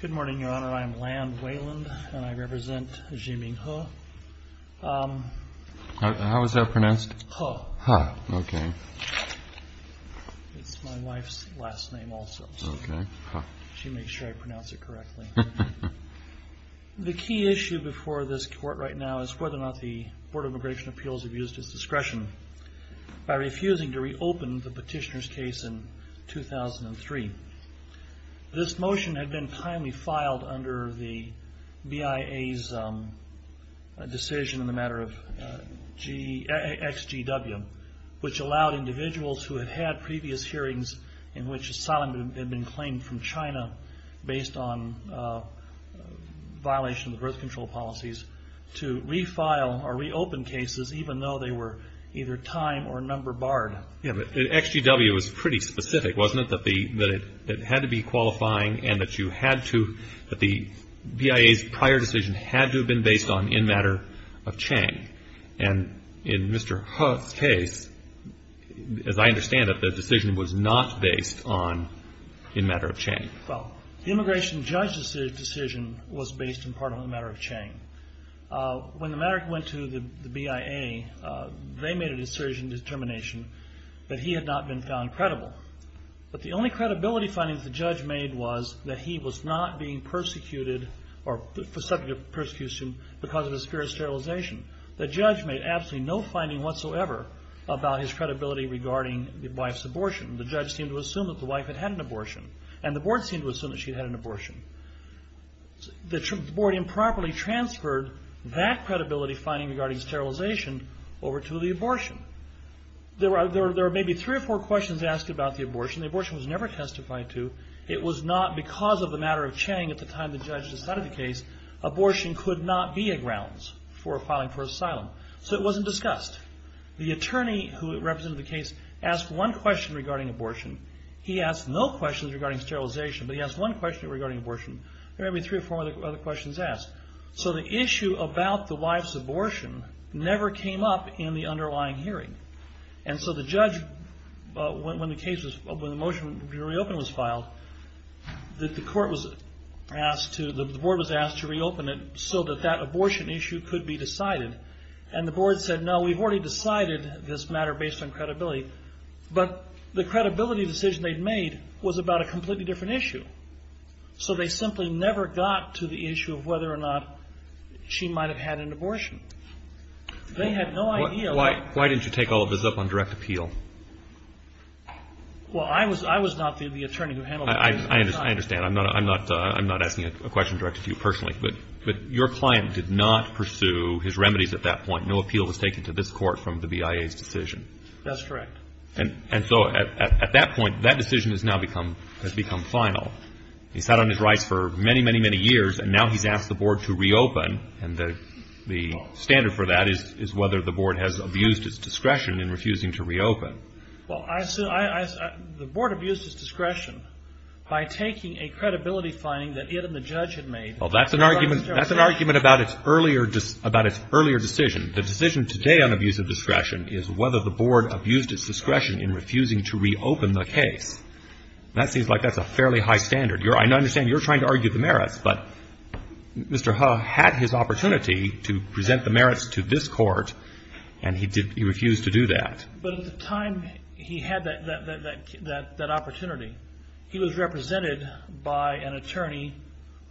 Good morning, Your Honor. I am Land Weyland, and I represent Xi Ming He. How is that pronounced? He. He. Okay. It's my wife's last name also. Okay. She makes sure I pronounce it correctly. The key issue before this Court right now is whether or not the Board of Immigration Appeals have used its discretion by refusing to reopen the petitioner's case in 2003. This motion had been timely filed under the BIA's decision in the matter of XGW, which allowed individuals who had had previous hearings in which asylum had been claimed from China based on violation of birth control policies to refile or reopen cases even though they were either time or number barred. Yeah, but XGW was pretty specific, wasn't it, that it had to be qualifying and that you had to, that the BIA's prior decision had to have been based on in matter of Chang. And in Mr. He's case, as I understand it, the decision was not based on in matter of Chang. Well, the immigration judge's decision was based in part on the matter of Chang. When the matter went to the BIA, they made a decision determination that he had not been found credible. But the only credibility findings the judge made was that he was not being persecuted or subject to persecution because of his fear of sterilization. The judge made absolutely no finding whatsoever about his credibility regarding the wife's abortion. The judge seemed to assume that the wife had had an abortion, and the board seemed to assume that she had had an abortion. The board improperly transferred that credibility finding regarding sterilization over to the abortion. There were maybe three or four questions asked about the abortion. The abortion was never testified to. It was not because of the matter of Chang at the time the judge decided the case, abortion could not be a grounds for filing for asylum. So it wasn't discussed. The attorney who represented the case asked one question regarding abortion. He asked no questions regarding sterilization, but he asked one question regarding abortion. There may be three or four other questions asked. So the issue about the wife's abortion never came up in the underlying hearing. And so the judge, when the motion to reopen was filed, the board was asked to reopen it so that that abortion issue could be decided. And the board said, no, we've already decided this matter based on credibility. But the credibility decision they'd made was about a completely different issue. So they simply never got to the issue of whether or not she might have had an abortion. They had no idea. Why didn't you take all of this up on direct appeal? Well, I was not the attorney who handled this at the time. I understand. I'm not asking a question directed to you personally. But your client did not pursue his remedies at that point. No appeal was taken to this court from the BIA's decision. That's correct. And so at that point, that decision has now become final. He sat on his rights for many, many, many years. And now he's asked the board to reopen. And the standard for that is whether the board has abused its discretion in refusing to reopen. Well, the board abused its discretion by taking a credibility finding that it and the judge had made. Well, that's an argument about its earlier decision. The decision today on abuse of discretion is whether the board abused its discretion in refusing to reopen the case. And that seems like that's a fairly high standard. I understand you're trying to argue the merits. But Mr. Hu had his opportunity to present the merits to this court, and he refused to do that. But at the time he had that opportunity, he was represented by an attorney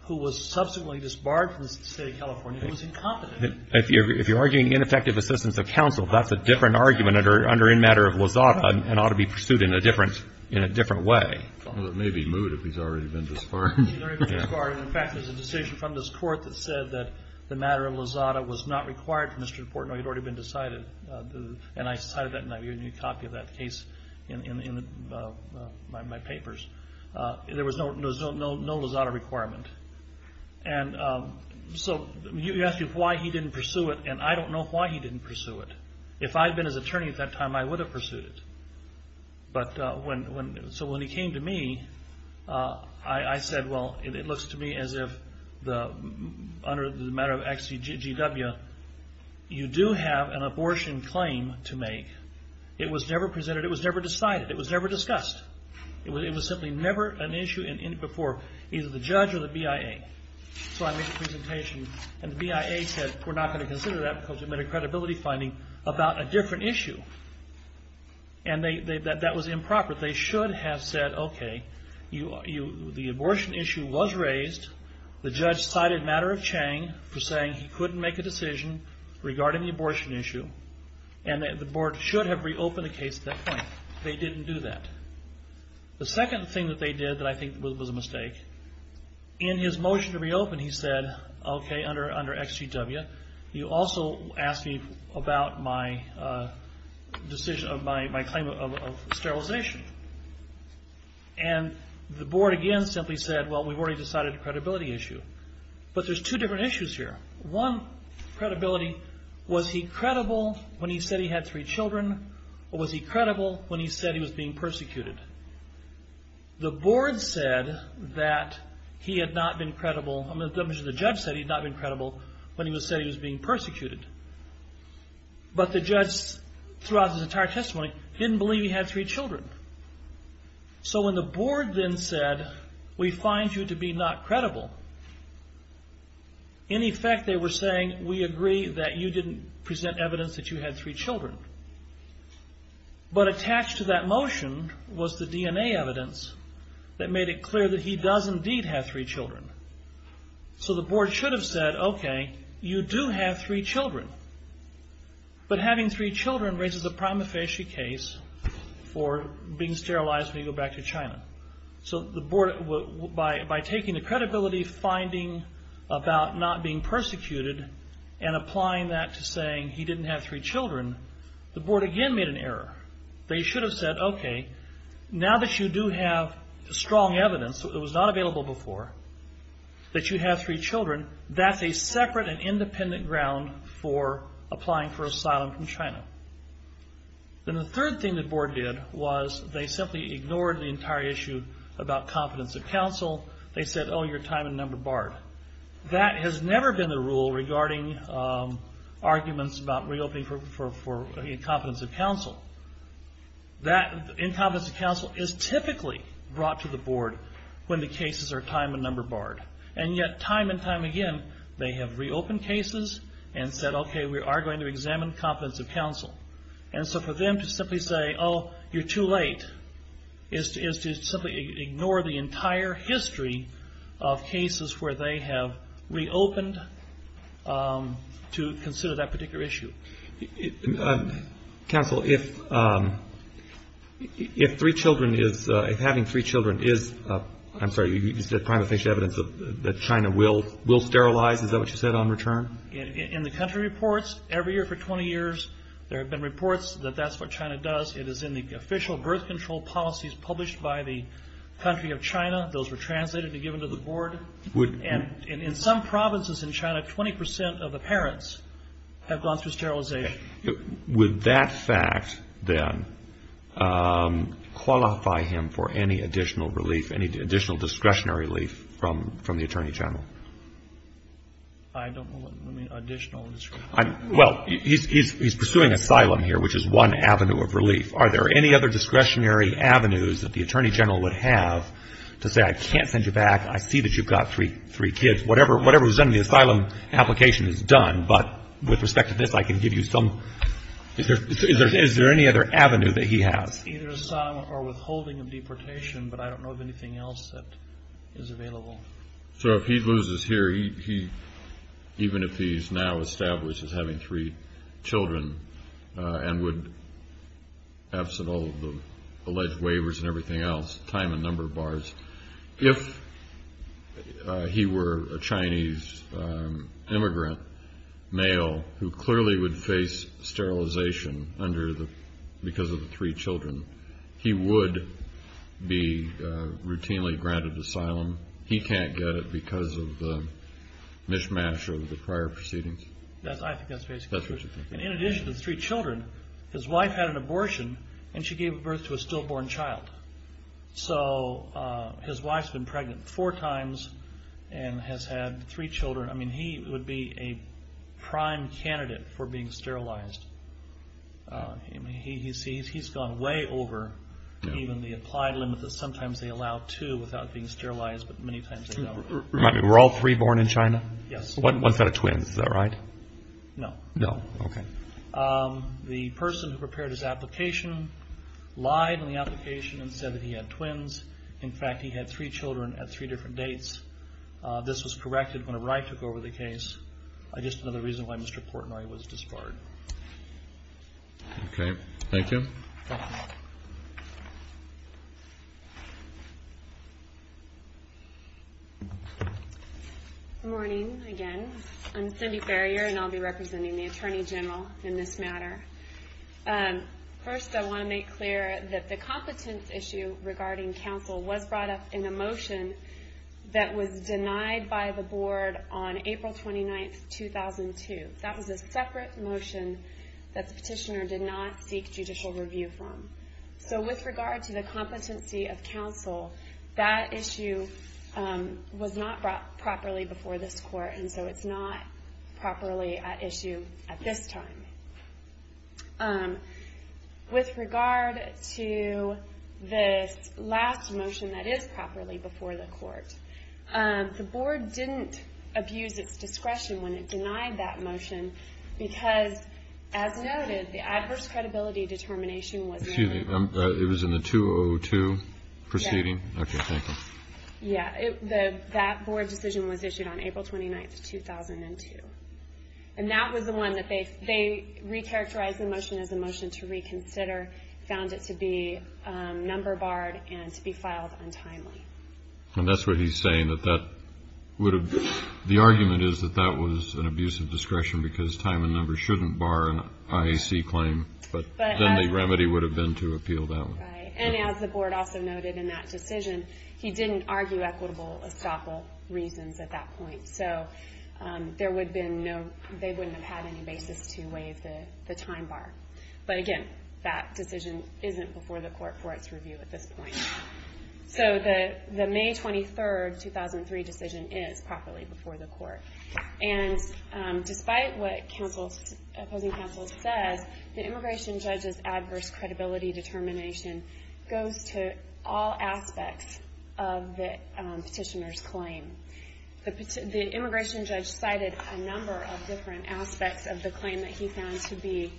who was subsequently disbarred from the State of California. He was incompetent. If you're arguing ineffective assistance of counsel, that's a different argument under in matter of Lozada and ought to be pursued in a different way. Well, it may be moot if he's already been disbarred. He's already been disbarred. In fact, there's a decision from this court that said that the matter of Lozada was not required from Mr. Portnoy. It had already been decided. And I cited that, and I gave you a copy of that case in my papers. There was no Lozada requirement. And so you ask me why he didn't pursue it, and I don't know why he didn't pursue it. If I had been his attorney at that time, I would have pursued it. So when he came to me, I said, well, it looks to me as if under the matter of XCGW, you do have an abortion claim to make. It was never presented. It was never decided. It was never discussed. It was simply never an issue before either the judge or the BIA. So I made a presentation, and the BIA said, we're not going to consider that because we've made a credibility finding about a different issue. And that was improper. They should have said, okay, the abortion issue was raised. The judge cited matter of Chang for saying he couldn't make a decision regarding the abortion issue. And the board should have reopened the case at that point. They didn't do that. The second thing that they did that I think was a mistake, in his motion to reopen, he said, okay, under XCGW, you also asked me about my claim of sterilization. And the board again simply said, well, we've already decided a credibility issue. But there's two different issues here. One, credibility, was he credible when he said he had three children? Or was he credible when he said he was being persecuted? The board said that he had not been credible. I'm going to mention the judge said he had not been credible when he said he was being persecuted. But the judge throughout his entire testimony didn't believe he had three children. So when the board then said, we find you to be not credible. In effect, they were saying, we agree that you didn't present evidence that you had three children. But attached to that motion was the DNA evidence that made it clear that he does indeed have three children. So the board should have said, okay, you do have three children. But having three children raises a prima facie case for being sterilized when you go back to China. So the board, by taking the credibility finding about not being persecuted and applying that to saying he didn't have three children, the board again made an error. They should have said, okay, now that you do have strong evidence, it was not available before, that you have three children, that's a separate and independent ground for applying for asylum from China. And the third thing the board did was they simply ignored the entire issue about confidence of counsel. They said, oh, you're time and number barred. That has never been the rule regarding arguments about reopening for incompetence of counsel. That incompetence of counsel is typically brought to the board when the cases are time and number barred. And yet time and time again, they have reopened cases and said, okay, we are going to examine competence of counsel. And so for them to simply say, oh, you're too late is to simply ignore the entire history of cases where they have reopened to consider that particular issue. Counsel, if having three children is, I'm sorry, you said prima facie evidence that China will sterilize, is that what you said on return? In the country reports, every year for 20 years, there have been reports that that's what China does. It is in the official birth control policies published by the country of China. Those were translated and given to the board. And in some provinces in China, 20% of the parents have gone through sterilization. Would that fact then qualify him for any additional relief, any additional discretionary relief from the Attorney General? I don't know what additional. Well, he's pursuing asylum here, which is one avenue of relief. Are there any other discretionary avenues that the Attorney General would have to say, I can't send you back. I see that you've got three kids. Whatever is done in the asylum application is done. But with respect to this, I can give you some. Is there any other avenue that he has? Either asylum or withholding of deportation, but I don't know of anything else that is available. So if he loses here, even if he's now established as having three children and would, absent all of the alleged waivers and everything else, time and number of bars, if he were a Chinese immigrant male who clearly would face sterilization because of the three children, he would be routinely granted asylum. He can't get it because of the mishmash of the prior proceedings? I think that's basically it. In addition to the three children, his wife had an abortion, and she gave birth to a stillborn child. So his wife's been pregnant four times and has had three children. I mean, he would be a prime candidate for being sterilized. He's gone way over even the applied limit that sometimes they allow to without being sterilized, but many times they don't. Remind me, were all three born in China? Yes. What's that of twins? Is that right? No. No. Okay. The person who prepared his application lied in the application and said that he had twins. In fact, he had three children at three different dates. This was corrected whenever I took over the case. I just know the reason why Mr. Portnoy was disbarred. Okay. Thank you. Good morning again. I'm Cindy Ferrier, and I'll be representing the Attorney General in this matter. First, I want to make clear that the competence issue regarding counsel was brought up in a motion that was denied by the board on April 29, 2002. That was a separate motion that the petitioner did not seek judicial review from. So with regard to the competency of counsel, that issue was not brought properly before this court, and so it's not properly at issue at this time. With regard to the last motion that is properly before the court, the board didn't abuse its discretion when it denied that motion because, as noted, the adverse credibility determination was not. Excuse me. It was in the 2002 proceeding? Yes. Okay. Thank you. Yeah. That board decision was issued on April 29, 2002, and that was the one that they recharacterized the motion as a motion to reconsider, found it to be number barred, and to be filed untimely. And that's what he's saying, that that would have been. The argument is that that was an abuse of discretion because time and numbers shouldn't bar an IAC claim, but then the remedy would have been to appeal that one. Right. And as the board also noted in that decision, he didn't argue equitable estoppel reasons at that point. So they wouldn't have had any basis to waive the time bar. But, again, that decision isn't before the court for its review at this point. So the May 23, 2003 decision is properly before the court. And despite what opposing counsel says, the immigration judge's adverse credibility determination goes to all aspects of the petitioner's claim. The immigration judge cited a number of different aspects of the claim that he found to be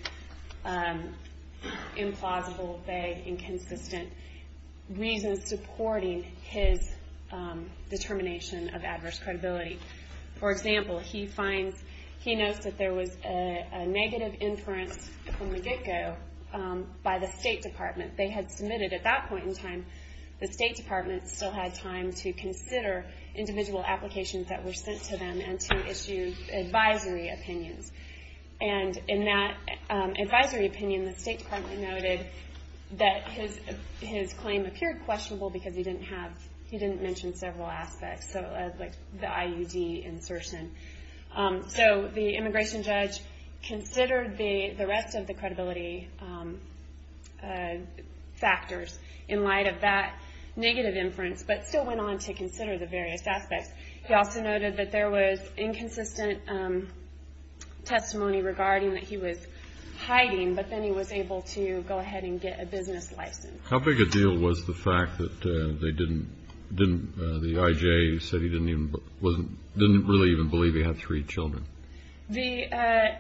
implausible, vague, inconsistent reasons supporting his determination of adverse credibility. For example, he notes that there was a negative inference from the get-go by the State Department. They had submitted at that point in time, the State Department still had time to consider individual applications that were sent to them and to issue advisory opinions. And in that advisory opinion, the State Department noted that his claim appeared questionable because he didn't mention several aspects, like the IUD insertion. So the immigration judge considered the rest of the credibility factors in light of that negative inference, but still went on to consider the various aspects. He also noted that there was inconsistent testimony regarding that he was hiding, but then he was able to go ahead and get a business license. How big a deal was the fact that they didn't, the IJ said he didn't even, didn't really even believe he had three children? The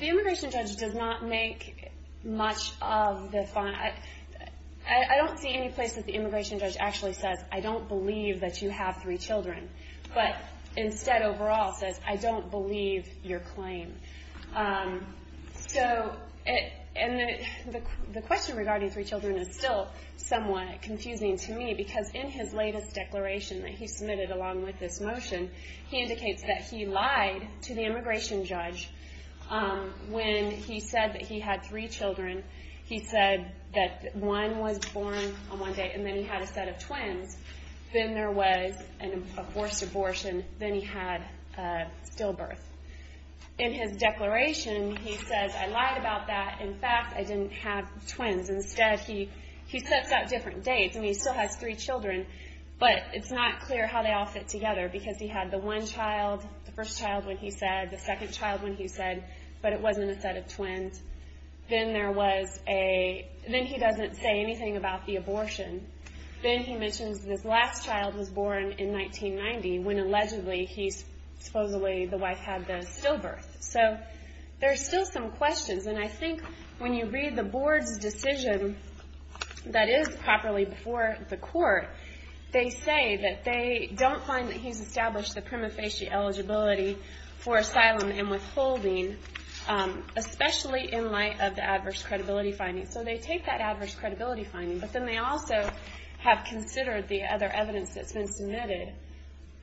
immigration judge does not make much of the, I don't see any place that the immigration judge actually says, I don't believe that you have three children, but instead overall says, I don't believe your claim. So, and the question regarding three children is still somewhat confusing to me, because in his latest declaration that he submitted along with this motion, he indicates that he lied to the immigration judge when he said that he had three children. He said that one was born on one day and then he had a set of twins. Then there was a forced abortion. Then he had stillbirth. In his declaration, he says, I lied about that. In fact, I didn't have twins. Instead, he sets out different dates, and he still has three children, but it's not clear how they all fit together, because he had the one child, the first child when he said, the second child when he said, but it wasn't a set of twins. Then there was a, then he doesn't say anything about the abortion. Then he mentions this last child was born in 1990, when allegedly he supposedly, the wife had the stillbirth. So, there's still some questions, and I think when you read the board's decision that is properly before the court, they say that they don't find that he's established the prima facie eligibility for asylum and withholding, especially in light of the adverse credibility finding. So, they take that adverse credibility finding, but then they also have considered the other evidence that's been submitted.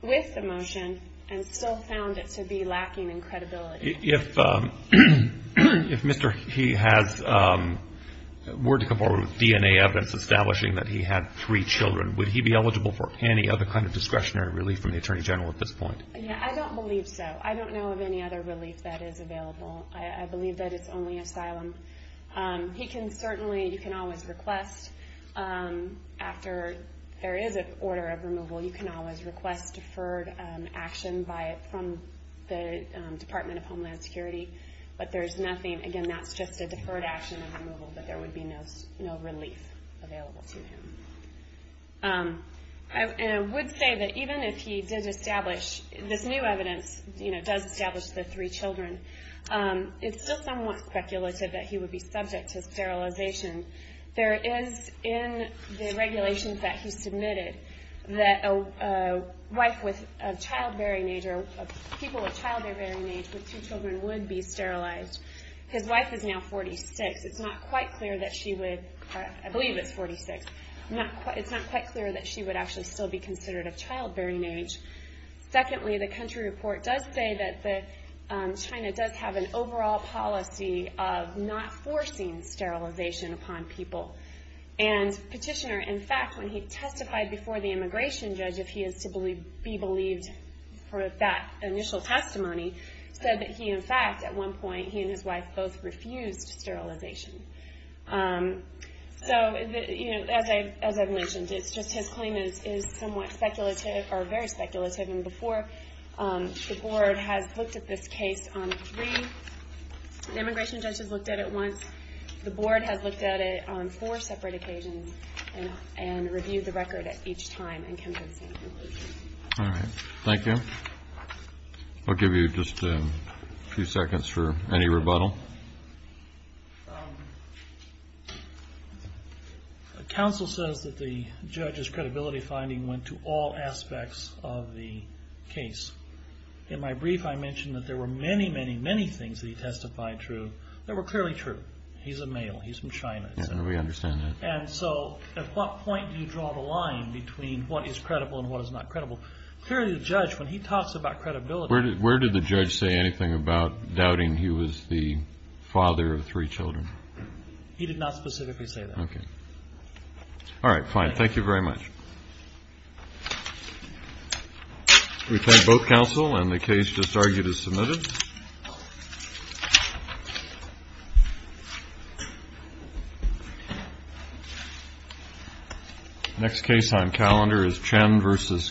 With the motion, and still found it to be lacking in credibility. If Mr. He has, were to come forward with DNA evidence establishing that he had three children, would he be eligible for any other kind of discretionary relief from the Attorney General at this point? Yeah, I don't believe so. I don't know of any other relief that is available. I believe that it's only asylum. He can certainly, you can always request, after there is an order of removal, you can always request deferred action from the Department of Homeland Security, but there's nothing, again, that's just a deferred action of removal, but there would be no relief available to him. And I would say that even if he did establish, this new evidence does establish the three children, it's still somewhat speculative that he would be subject to sterilization. There is, in the regulations that he submitted, that a wife with a childbearing age, or people with childbearing age with two children would be sterilized. His wife is now 46. It's not quite clear that she would, I believe it's 46, it's not quite clear that she would actually still be considered of childbearing age. Secondly, the country report does say that China does have an overall policy of not forcing sterilization upon people. And Petitioner, in fact, when he testified before the immigration judge, if he is to be believed for that initial testimony, said that he, in fact, at one point, he and his wife both refused sterilization. So, as I've mentioned, it's just his claim is somewhat speculative, or very speculative, and before the board has looked at this case on three, the immigration judge has looked at it once, the board has looked at it on four separate occasions, and reviewed the record at each time and came to the same conclusion. All right. Thank you. I'll give you just a few seconds for any rebuttal. Counsel says that the judge's credibility finding went to all aspects of the case. In my brief, I mentioned that there were many, many, many things that he testified true that were clearly true. He's a male. He's from China, et cetera. Yeah, we understand that. And so, at what point do you draw the line between what is credible and what is not credible? Clearly, the judge, when he talks about credibility Where did the judge say anything about doubting he was the father of three children? He did not specifically say that. Okay. All right. Fine. Thank you very much. We thank both counsel, and the case just argued is submitted. Next case on calendar is Chen versus Gonzalez.